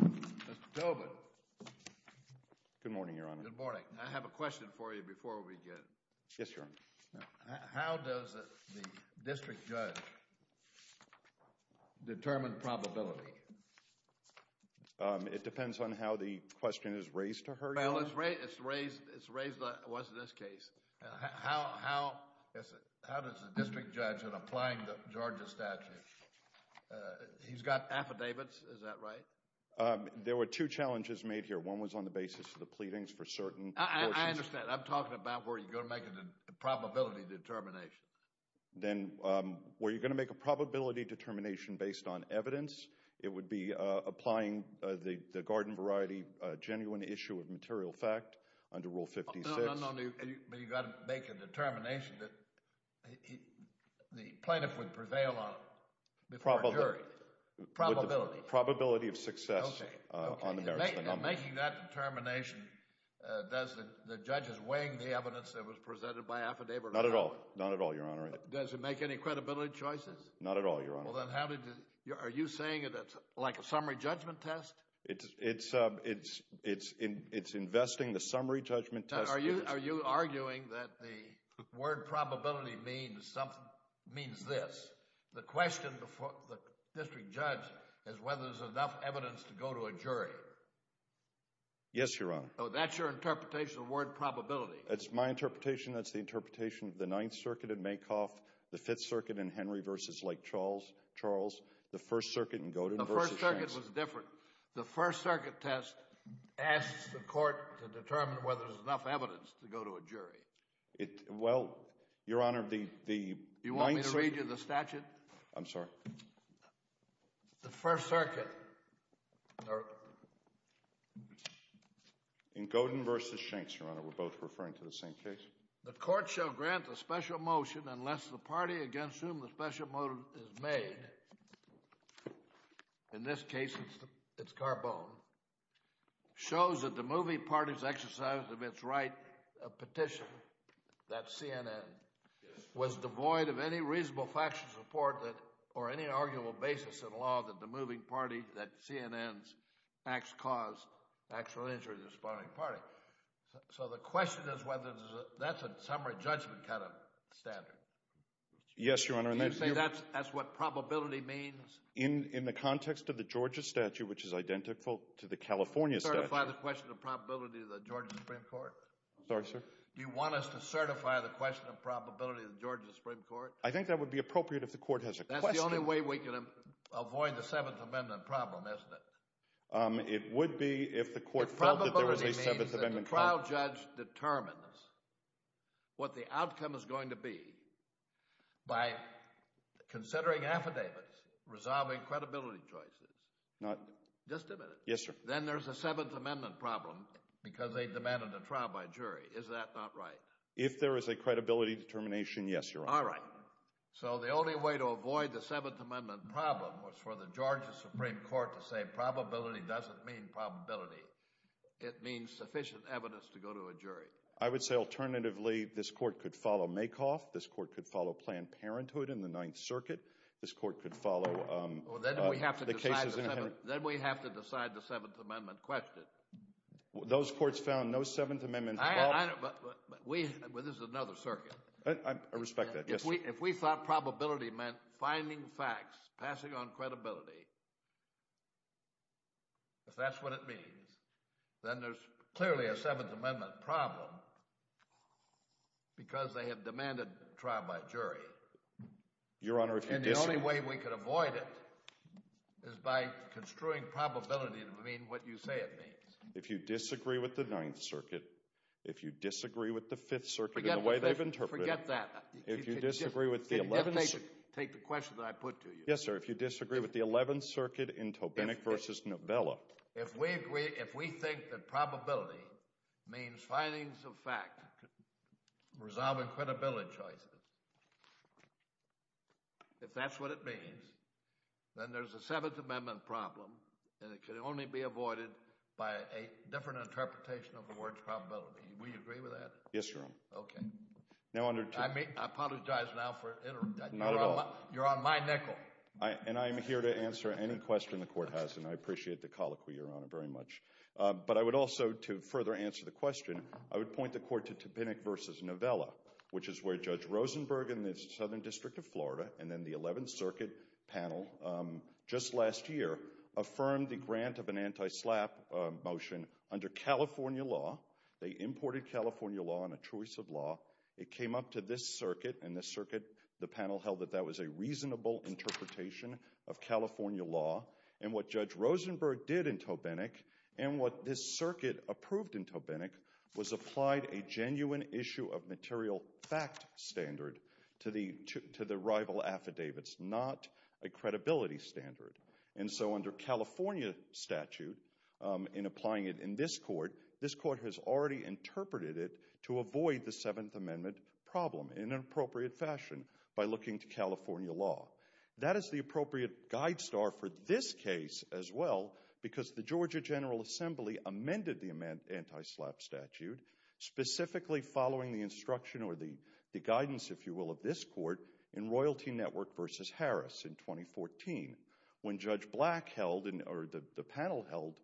Mr. Tobin, I have a question for you before we begin. How does the district judge determine probability? It depends on how the question is raised to her, Your Honor. Well, it's raised like it was in this case. How does the district judge in applying the Georgia statute, he's got affidavits, is that right? There were two challenges made here. One was on the basis of the pleadings for certain portions. I understand. I'm talking about where you're going to make a probability determination. Then, were you going to make a probability determination based on evidence? It would be applying the garden variety genuine issue of material fact under Rule 56. No, no, no. But you've got to make a determination that the plaintiff would prevail on before a jury. Probability. Probability. Probability of success on the merits of the number. And making that determination, does the judge's weighing the evidence that was presented by affidavit or not? Not at all. Not at all, Your Honor. Does it make any credibility choices? Not at all, Your Honor. Well, then how did the, are you saying that it's like a summary judgment test? It's investing the summary judgment test. Are you arguing that the word probability means this? The question before the district judge is whether there's enough evidence to go to a jury. Yes, Your Honor. Oh, that's your interpretation of the word probability. That's my interpretation. That's the interpretation of the Ninth Circuit in Maycoff, the Fifth Circuit in Henry v. Lake Charles, the First Circuit in Godin v. Shanks. The First Circuit was different. The First Circuit test asks the court to determine whether there's enough evidence to go to a jury. It, well, Your Honor, the, the Ninth Circuit. You want me to read you the statute? I'm sorry. The First Circuit, or... In Godin v. Shanks, Your Honor, we're both referring to the same case. The court shall grant a special motion unless the party against whom the special motion is made, in this case it's Carbone, shows that the moving party's exercise of its right of petition, that's CNN, was devoid of any reasonable factual support that, or any arguable basis in law that the moving party, that CNN's, acts caused actual injury to the sparring party. So the question is whether that's a summary judgment kind of standard. Yes, Your Honor. Do you say that's what probability means? In the context of the Georgia statute, which is identical to the California statute. Do you certify the question of probability of the Georgia Supreme Court? Sorry, sir? Do you want us to certify the question of probability of the Georgia Supreme Court? I think that would be appropriate if the court has a question. That's the only way we can avoid the Seventh Amendment problem, isn't it? It would be if the court felt that there was a Seventh Amendment problem. The probability means that the trial judge determines what the outcome is going to be by considering affidavits, resolving credibility choices. Not... Just a minute. Yes, sir. Then there's a Seventh Amendment problem because they demanded a trial by jury. Is that not right? If there is a credibility determination, yes, Your Honor. All right. So the only way to avoid the Seventh Amendment problem was for the Georgia Supreme Court to say probability doesn't mean probability. It means sufficient evidence to go to a jury. I would say, alternatively, this court could follow Makoff. This court could follow Planned Parenthood in the Ninth Circuit. This court could follow the cases in... Then we have to decide the Seventh Amendment question. Those courts found no Seventh Amendment problem. This is another circuit. I respect that. Yes, sir. If we thought probability meant finding facts, passing on credibility, if that's what it means, then there's clearly a Seventh Amendment problem because they have demanded a trial by jury. Your Honor, if you disagree... And the only way we could avoid it is by construing probability to mean what you say it means. If you disagree with the Ninth Circuit, if you disagree with the Fifth Circuit in the way they've interpreted it... Forget that. If you disagree with the Eleventh... Take the question that I put to you. Yes, sir. If you disagree with the Eleventh Circuit in Tobinick v. Novella... If we agree... If we think that probability means findings of fact, resolving credibility choices, if that's what it means, then there's a Seventh Amendment problem, and it can only be avoided by a different interpretation of the word probability. Will you agree with that? Yes, Your Honor. Okay. I apologize now for interrupting. Not at all. You're on my nickel. And I'm here to answer any question the Court has, and I appreciate the colloquy, Your Honor, very much. But I would also, to further answer the question, I would point the Court to Tobinick v. Novella, which is where Judge Rosenberg in the Southern District of Florida and then the Eleventh Circuit panel just last year affirmed the grant of an anti-SLAPP motion under California law. They imported California law and a choice of law. It came up to this circuit, and this circuit, the panel held that that was a reasonable interpretation of California law. And what Judge Rosenberg did in Tobinick and what this circuit approved in Tobinick was applied a genuine issue of material fact standard to the rival affidavits, not a credibility standard. And so under California statute, in applying it in this court, this court has already interpreted it to avoid the Seventh Amendment problem in an appropriate fashion by looking to California law. That is the appropriate guide star for this case as well because the Georgia General Assembly amended the anti-SLAPP statute, specifically following the instruction or the guidance, if you will, of this court in Royalty Network v. Harris in 2014 when Judge Black held or the panel held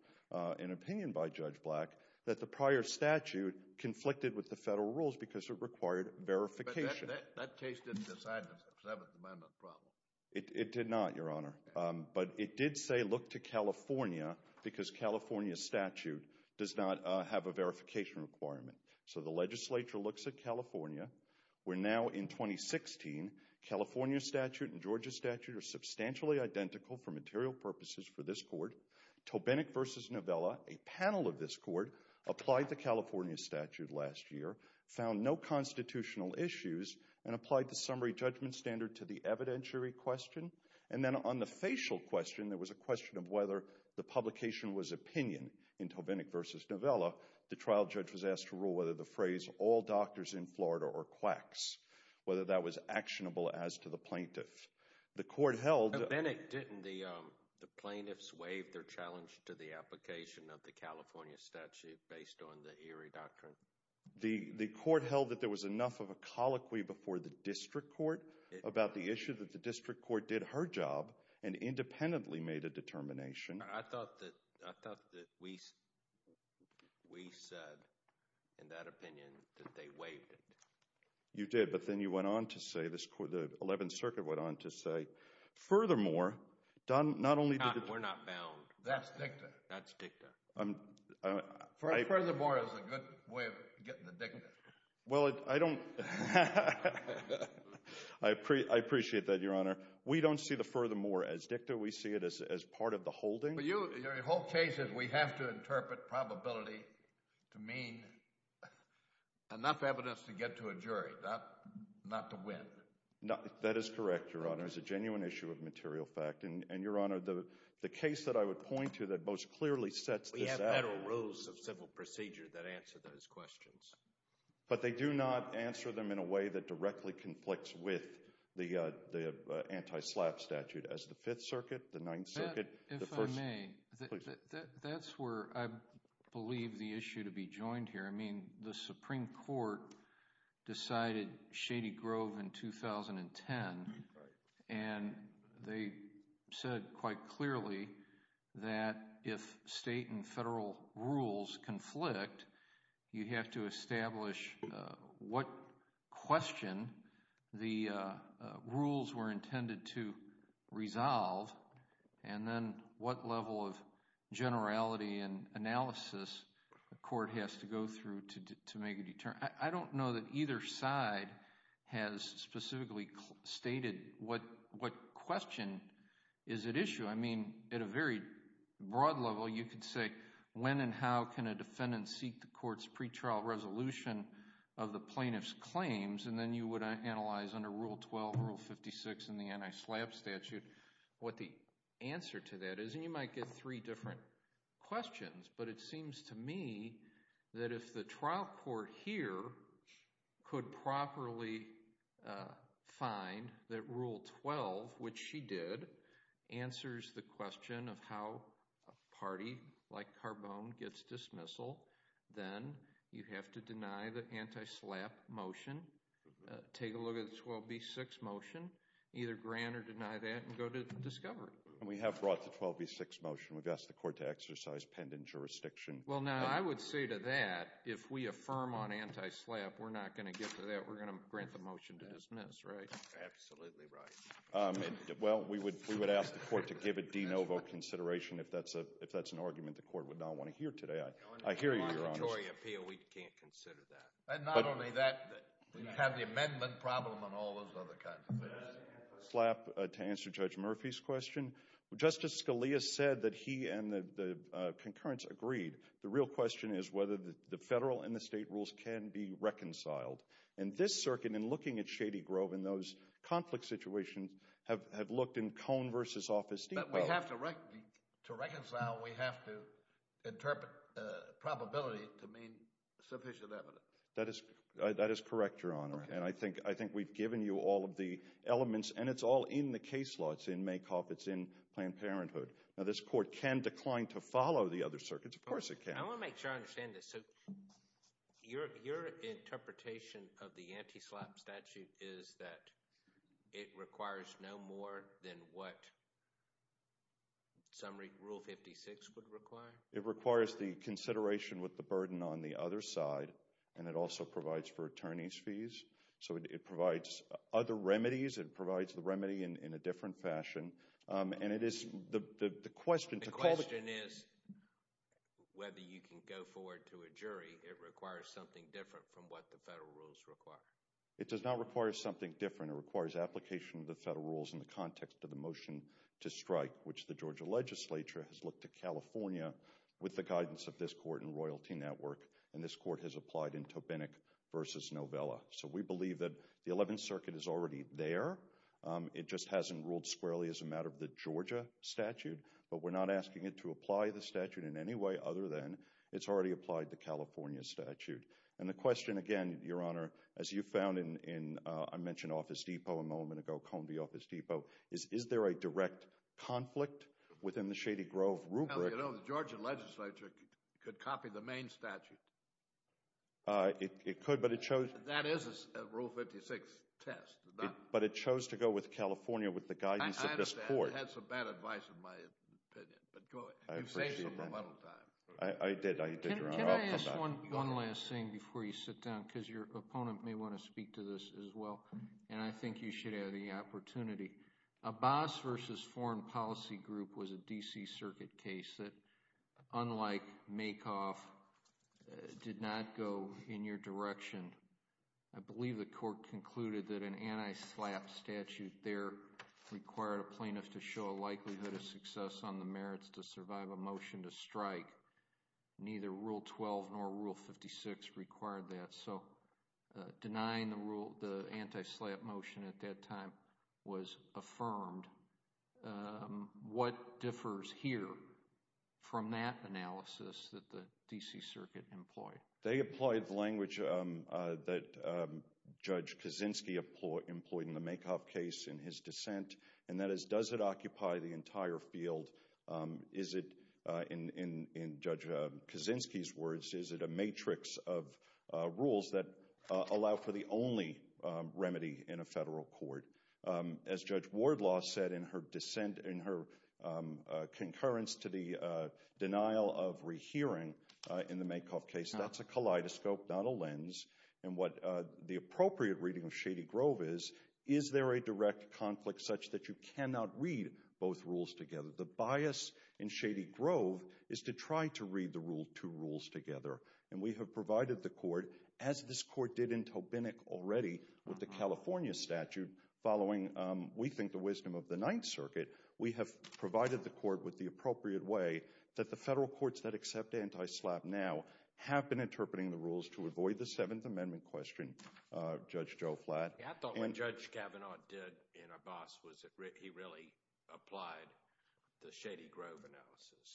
an opinion by Judge Black that the prior statute conflicted with the federal rules because it required verification. That case didn't decide the Seventh Amendment problem. It did not, Your Honor, but it did say look to California because California statute does not have a verification requirement. So the legislature looks at California. We're now in 2016. California statute and Georgia statute are substantially identical for material purposes for this court. Tobinick v. Novella, a panel of this court, applied the California statute last year, found no constitutional issues, and applied the summary judgment standard to the evidentiary question. And then on the facial question, there was a question of whether the publication was opinion. In Tobinick v. Novella, the trial judge was asked to rule whether the phrase all doctors in Florida are quacks, whether that was actionable as to the plaintiff. In Tobinick, didn't the plaintiffs waive their challenge to the application of the California statute based on the Erie Doctrine? The court held that there was enough of a colloquy before the district court about the issue that the district court did her job and independently made a determination. I thought that we said in that opinion that they waived it. You did, but then you went on to say, the 11th Circuit went on to say, furthermore, not only did the— We're not bound. That's dicta. That's dicta. Furthermore is a good way of getting the dicta. Well, I don't—I appreciate that, Your Honor. We don't see the furthermore as dicta. We see it as part of the holding. Your whole case is we have to interpret probability to mean enough evidence to get to a jury, not to win. That is correct, Your Honor. It's a genuine issue of material fact. And, Your Honor, the case that I would point to that most clearly sets this out— We have better rules of civil procedure that answer those questions. But they do not answer them in a way that directly conflicts with the anti-SLAPP statute as the 5th Circuit, the 9th Circuit— If I may, that's where I believe the issue to be joined here. I mean, the Supreme Court decided Shady Grove in 2010, and they said quite clearly that if state and federal rules conflict, you have to establish what question the rules were intended to resolve, and then what level of generality and analysis the court has to go through to make a determination. I don't know that either side has specifically stated what question is at issue. I mean, at a very broad level, you could say when and how can a defendant seek the court's pretrial resolution of the plaintiff's claims, and then you would analyze under Rule 12, Rule 56 in the anti-SLAPP statute what the answer to that is. And you might get three different questions. But it seems to me that if the trial court here could properly find that Rule 12, which she did, answers the question of how a party like Carbone gets dismissal, then you have to deny the anti-SLAPP motion, take a look at the 12B6 motion, either grant or deny that, and go to discovery. And we have brought the 12B6 motion. We've asked the court to exercise pendant jurisdiction. Well, now, I would say to that, if we affirm on anti-SLAPP, we're not going to get to that. We're going to grant the motion to dismiss, right? Absolutely right. Well, we would ask the court to give a de novo consideration if that's an argument the court would not want to hear today. I hear you, Your Honor. In a mandatory appeal, we can't consider that. And not only that, we have the amendment problem and all those other kinds of things. To answer Judge Murphy's question, Justice Scalia said that he and the concurrence agreed. The real question is whether the federal and the state rules can be reconciled. And this circuit, in looking at Shady Grove and those conflict situations, have looked in Cone versus Office Depot. But we have to reconcile. We have to interpret probability to mean sufficient evidence. That is correct, Your Honor. And I think we've given you all of the elements, and it's all in the case law. It's in Mankoff. It's in Planned Parenthood. Now, this court can decline to follow the other circuits. Of course it can. I want to make sure I understand this. So your interpretation of the anti-SLAPP statute is that it requires no more than what summary Rule 56 would require? It requires the consideration with the burden on the other side. And it also provides for attorneys' fees. So it provides other remedies. It provides the remedy in a different fashion. And it is the question to call it— The question is whether you can go forward to a jury. It requires something different from what the federal rules require. It does not require something different. It requires application of the federal rules in the context of the motion to strike, which the Georgia legislature has looked at California with the guidance of this court and Royalty Network. And this court has applied in Tobinick v. Novella. So we believe that the Eleventh Circuit is already there. It just hasn't ruled squarely as a matter of the Georgia statute. But we're not asking it to apply the statute in any way other than it's already applied the California statute. And the question, again, Your Honor, as you found in—I mentioned Office Depot a moment ago, Columbia Office Depot. Is there a direct conflict within the Shady Grove rubric? Well, you know, the Georgia legislature could copy the Maine statute. It could, but it chose— That is a Rule 56 test. But it chose to go with California with the guidance of this court. I understand. You had some bad advice in my opinion. But go ahead. You've saved me a little time. I did. I did, Your Honor. Can I ask one last thing before you sit down? Because your opponent may want to speak to this as well. And I think you should have the opportunity. Abbas v. Foreign Policy Group was a D.C. Circuit case that, unlike Makoff, did not go in your direction. I believe the court concluded that an anti-SLAPP statute there required a plaintiff to show a likelihood of success on the merits to survive a motion to strike. Neither Rule 12 nor Rule 56 required that. So denying the anti-SLAPP motion at that time was affirmed. What differs here from that analysis that the D.C. Circuit employed? They employed the language that Judge Kaczynski employed in the Makoff case in his dissent. And that is, does it occupy the entire field? Is it, in Judge Kaczynski's words, is it a matrix of rules that allow for the only remedy in a federal court? As Judge Wardlaw said in her dissent, in her concurrence to the denial of rehearing in the Makoff case, that's a kaleidoscope, not a lens. And what the appropriate reading of Shady Grove is, is there a direct conflict such that you cannot read both rules together? The bias in Shady Grove is to try to read the two rules together. And we have provided the court, as this court did in Tobinick already with the California statute following, we think, the wisdom of the Ninth Circuit. We have provided the court with the appropriate way that the federal courts that accept anti-SLAPP now have been interpreting the rules to avoid the Seventh Amendment question, Judge Joe Flatt. I thought what Judge Kavanaugh did in Abbas was he really applied the Shady Grove analysis,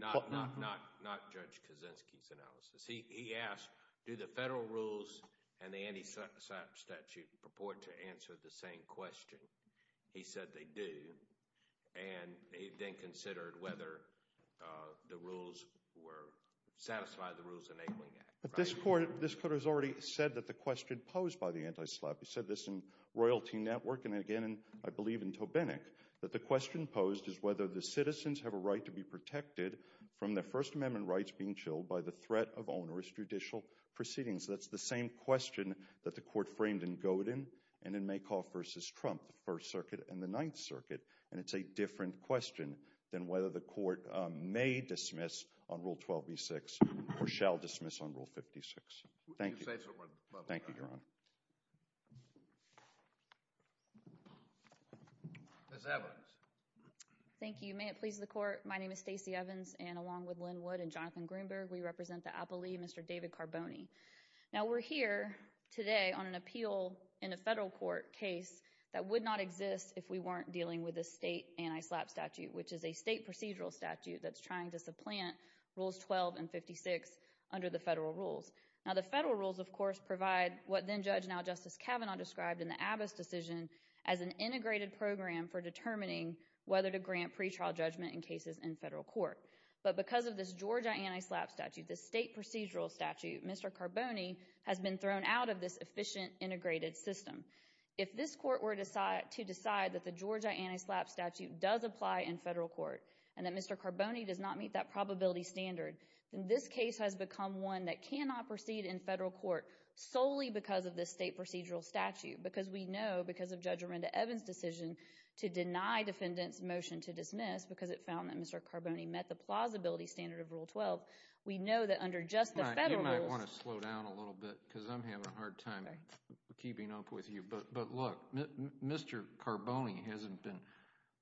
not Judge Kaczynski's analysis. He asked, do the federal rules and the anti-SLAPP statute purport to answer the same question? He said they do. And he then considered whether the rules were – satisfy the Rules Enabling Act. But this court has already said that the question posed by the anti-SLAPP – he said this in Royalty Network and again, I believe, in Tobinick – that the question posed is whether the citizens have a right to be protected from their First Amendment rights being chilled by the threat of onerous judicial proceedings. That's the same question that the court framed in Godin and in Makoff v. Trump, the First Circuit and the Ninth Circuit. And it's a different question than whether the court may dismiss on Rule 12b-6 or shall dismiss on Rule 56. Thank you, Your Honor. Ms. Evans. Thank you. May it please the court, my name is Stacey Evans and along with Lynn Wood and Jonathan Greenberg, we represent the Appellee, Mr. David Carboni. Now, we're here today on an appeal in a federal court case that would not exist if we weren't dealing with a state anti-SLAPP statute, which is a state procedural statute that's trying to supplant Rules 12 and 56 under the federal rules. Now, the federal rules, of course, provide what then-Judge, now Justice Kavanaugh, described in the Abbott's decision as an integrated program for determining whether to grant pretrial judgment in cases in federal court. But because of this Georgia anti-SLAPP statute, this state procedural statute, Mr. Carboni has been thrown out of this efficient, integrated system. If this court were to decide that the Georgia anti-SLAPP statute does apply in federal court and that Mr. Carboni does not meet that probability standard, then this case has become one that cannot proceed in federal court solely because of this state procedural statute. Because we know, because of Judge Linda Evans' decision to deny defendants' motion to dismiss because it found that Mr. Carboni met the plausibility standard of Rule 12, we know that under just the federal rules… You might want to slow down a little bit because I'm having a hard time keeping up with you. But look, Mr. Carboni hasn't been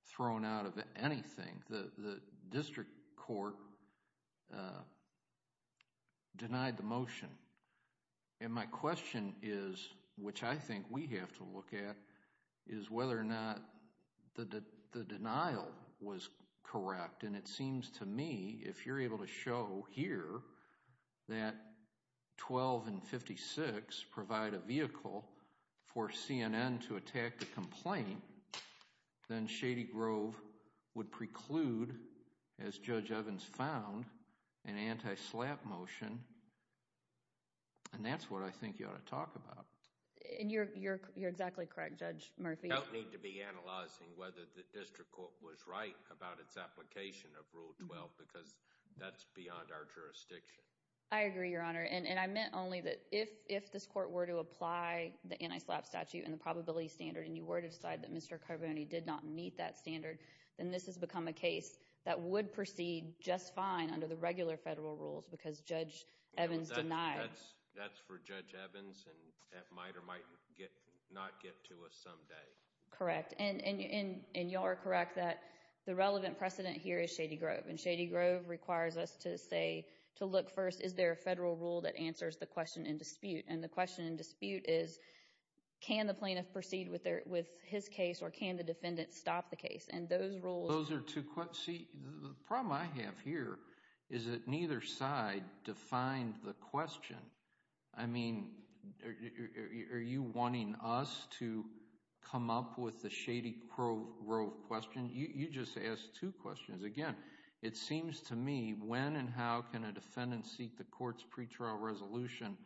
thrown out of anything. The district court denied the motion, and my question is, which I think we have to look at, is whether or not the denial was correct. And it seems to me, if you're able to show here that 12 and 56 provide a vehicle for CNN to attack the complaint, then Shady Grove would preclude, as Judge Evans found, an anti-SLAPP motion. And that's what I think you ought to talk about. And you're exactly correct, Judge Murphy. We don't need to be analyzing whether the district court was right about its application of Rule 12 because that's beyond our jurisdiction. I agree, Your Honor. And I meant only that if this court were to apply the anti-SLAPP statute and the probability standard, and you were to decide that Mr. Carboni did not meet that standard, then this has become a case that would proceed just fine under the regular federal rules because Judge Evans denied. That's for Judge Evans, and that might or might not get to us someday. Correct. And you are correct that the relevant precedent here is Shady Grove. And Shady Grove requires us to say, to look first, is there a federal rule that answers the question in dispute? And the question in dispute is, can the plaintiff proceed with his case or can the defendant stop the case? See, the problem I have here is that neither side defined the question. I mean, are you wanting us to come up with the Shady Grove question? You just asked two questions. Again, it seems to me when and how can a defendant seek the court's pretrial resolution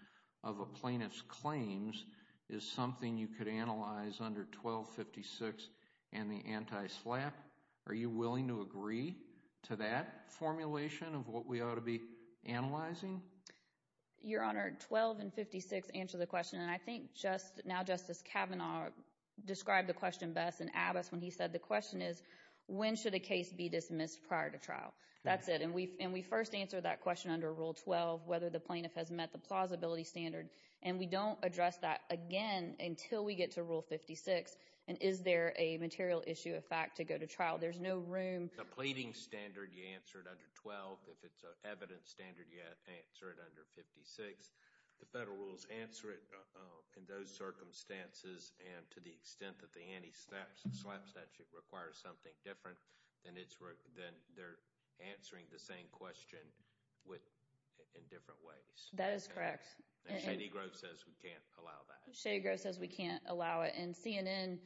of a plaintiff's claims is something you could analyze under 1256 and the anti-SLAPP. Are you willing to agree to that formulation of what we ought to be analyzing? Your Honor, 12 and 56 answer the question. And I think now Justice Kavanaugh described the question best in Abbess when he said the question is, when should a case be dismissed prior to trial? That's it. And we first answered that question under Rule 12, whether the plaintiff has met the plausibility standard. And we don't address that again until we get to Rule 56. And is there a material issue, a fact, to go to trial? There's no room. The pleading standard, you answer it under 12. If it's an evidence standard, you answer it under 56. The federal rules answer it in those circumstances. And to the extent that the anti-SLAPP statute requires something different, then they're answering the same question in different ways. That is correct. And Shady Grove says we can't allow that. Shady Grove says we can't allow it. And CNN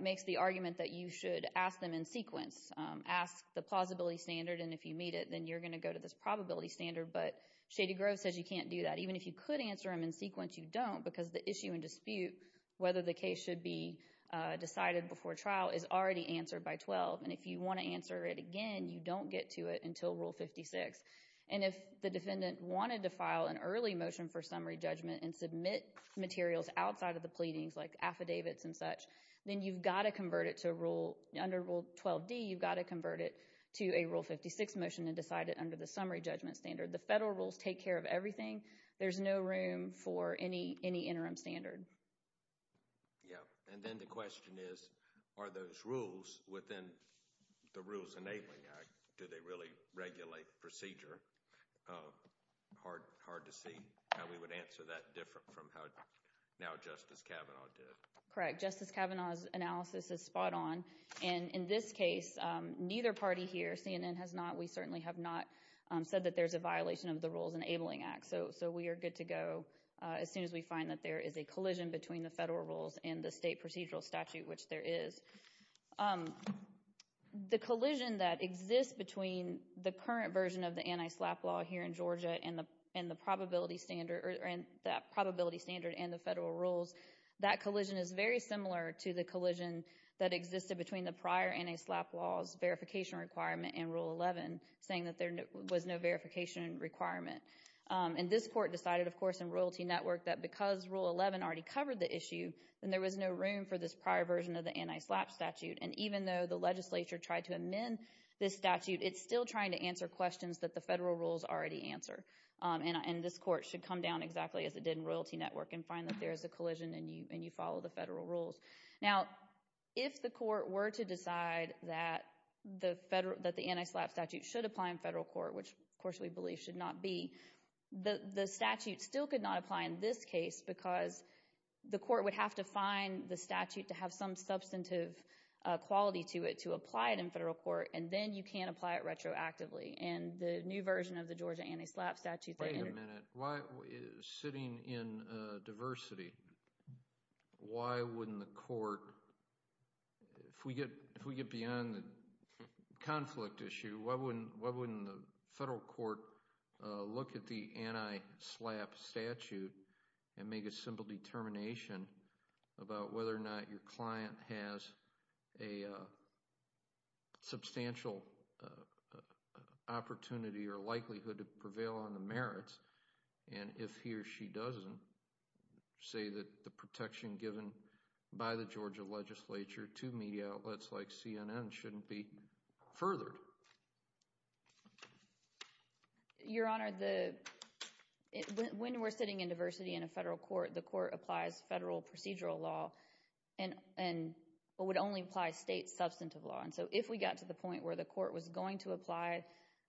makes the argument that you should ask them in sequence. Ask the plausibility standard, and if you meet it, then you're going to go to this probability standard. But Shady Grove says you can't do that. Even if you could answer them in sequence, you don't because the issue and dispute, whether the case should be decided before trial, is already answered by 12. And if you want to answer it again, you don't get to it until Rule 56. And if the defendant wanted to file an early motion for summary judgment and submit materials outside of the pleadings, like affidavits and such, then you've got to convert it to a rule. Under Rule 12d, you've got to convert it to a Rule 56 motion and decide it under the summary judgment standard. The federal rules take care of everything. There's no room for any interim standard. Yeah, and then the question is, are those rules within the Rules Enabling Act, do they really regulate procedure? Hard to see how we would answer that different from how now Justice Kavanaugh did. Correct. Justice Kavanaugh's analysis is spot on. And in this case, neither party here, CNN has not, we certainly have not, said that there's a violation of the Rules Enabling Act. So we are good to go as soon as we find that there is a collision between the federal rules and the state procedural statute, which there is. The collision that exists between the current version of the anti-SLAPP law here in Georgia and the probability standard and the federal rules, that collision is very similar to the collision that existed between the prior anti-SLAPP laws verification requirement and Rule 11, saying that there was no verification requirement. And this court decided, of course, in Royalty Network, that because Rule 11 already covered the issue, then there was no room for this prior version of the anti-SLAPP statute. And even though the legislature tried to amend this statute, it's still trying to answer questions that the federal rules already answer. And this court should come down exactly as it did in Royalty Network and find that there is a collision and you follow the federal rules. Now, if the court were to decide that the anti-SLAPP statute should apply in federal court, which, of course, we believe should not be, the statute still could not apply in this case because the court would have to find the statute to have some substantive quality to it to apply it in federal court, and then you can't apply it retroactively. And the new version of the Georgia anti-SLAPP statute— Wait a minute. Sitting in diversity, why wouldn't the court, if we get beyond the conflict issue, why wouldn't the federal court look at the anti-SLAPP statute and make a simple determination about whether or not your client has a substantial opportunity or likelihood to prevail on the merits? And if he or she doesn't, say that the protection given by the Georgia legislature to media outlets like CNN shouldn't be furthered. Your Honor, when we're sitting in diversity in a federal court, the court applies federal procedural law and would only apply state substantive law. And so if we got to the point where the court was going to apply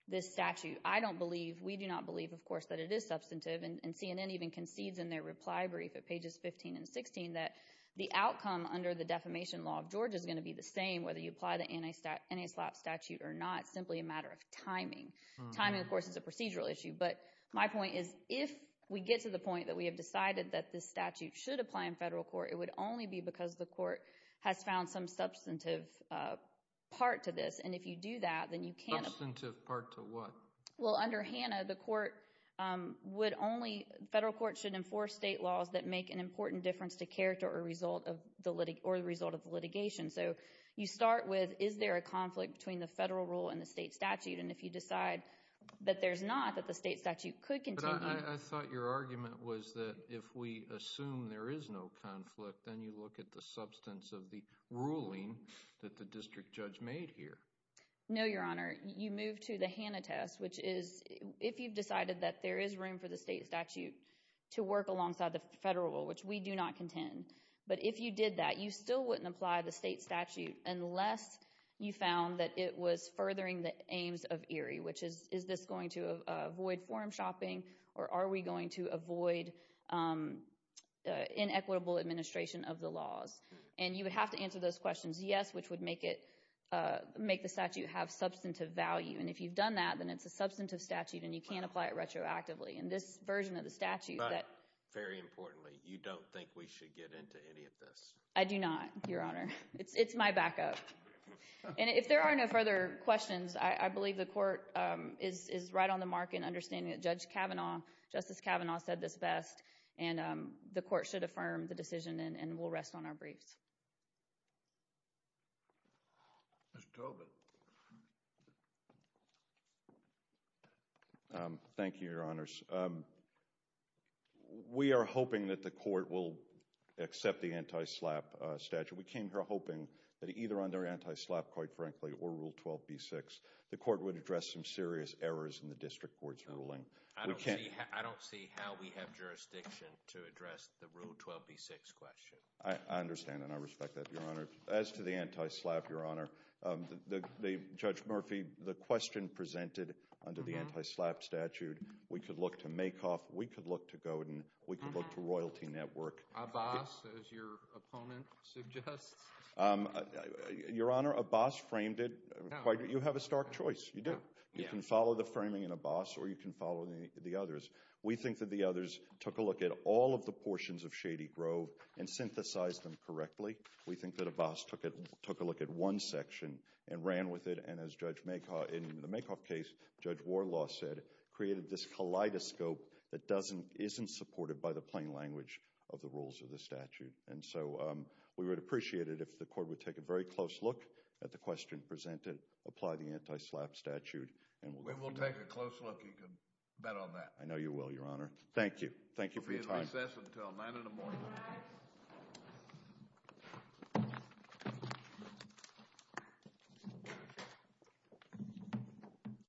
this statute, I don't believe, we do not believe, of course, that it is substantive, and CNN even concedes in their reply brief at pages 15 and 16 that the outcome under the defamation law of Georgia is going to be the same, whether you apply the anti-SLAPP statute or not. It's simply a matter of timing. Timing, of course, is a procedural issue. But my point is if we get to the point that we have decided that this statute should apply in federal court, it would only be because the court has found some substantive part to this. And if you do that, then you can't— Substantive part to what? Well, under HANA, the court would only—federal court should enforce state laws that make an important difference to character or result of the litigation. So you start with is there a conflict between the federal rule and the state statute, and if you decide that there's not, that the state statute could continue— But I thought your argument was that if we assume there is no conflict, then you look at the substance of the ruling that the district judge made here. No, Your Honor. You move to the HANA test, which is if you've decided that there is room for the state statute to work alongside the federal rule, which we do not contend. But if you did that, you still wouldn't apply the state statute unless you found that it was furthering the aims of ERI, which is is this going to avoid forum shopping or are we going to avoid inequitable administration of the laws? And you would have to answer those questions yes, which would make the statute have substantive value. And if you've done that, then it's a substantive statute and you can't apply it retroactively. And this version of the statute that— But very importantly, you don't think we should get into any of this. I do not, Your Honor. It's my backup. And if there are no further questions, I believe the court is right on the mark in understanding that Judge Kavanaugh, Justice Kavanaugh said this best, and the court should affirm the decision and we'll rest on our briefs. Mr. Tobin. Thank you, Your Honors. We are hoping that the court will accept the anti-SLAPP statute. We came here hoping that either under anti-SLAPP, quite frankly, or Rule 12b-6, the court would address some serious errors in the district court's ruling. I don't see how we have jurisdiction to address the Rule 12b-6 question. I understand and I respect that, Your Honor. As to the anti-SLAPP, Your Honor, Judge Murphy, the question presented under the anti-SLAPP statute, we could look to Makoff, we could look to Godin, we could look to Royalty Network. Abbas, as your opponent suggests. Your Honor, Abbas framed it. You have a stark choice. You do. You can follow the framing in Abbas or you can follow the others. We think that the others took a look at all of the portions of Shady Grove and synthesized them correctly. We think that Abbas took a look at one section and ran with it and, as Judge Makoff, in the Makoff case, Judge Warlaw said, created this kaleidoscope that doesn't, isn't supported by the plain language of the rules of the statute. And so we would appreciate it if the court would take a very close look at the question presented, apply the anti-SLAPP statute. We will take a close look. You can bet on that. I know you will, Your Honor. Thank you. Thank you for your time. We'll be in recess until 9 in the morning.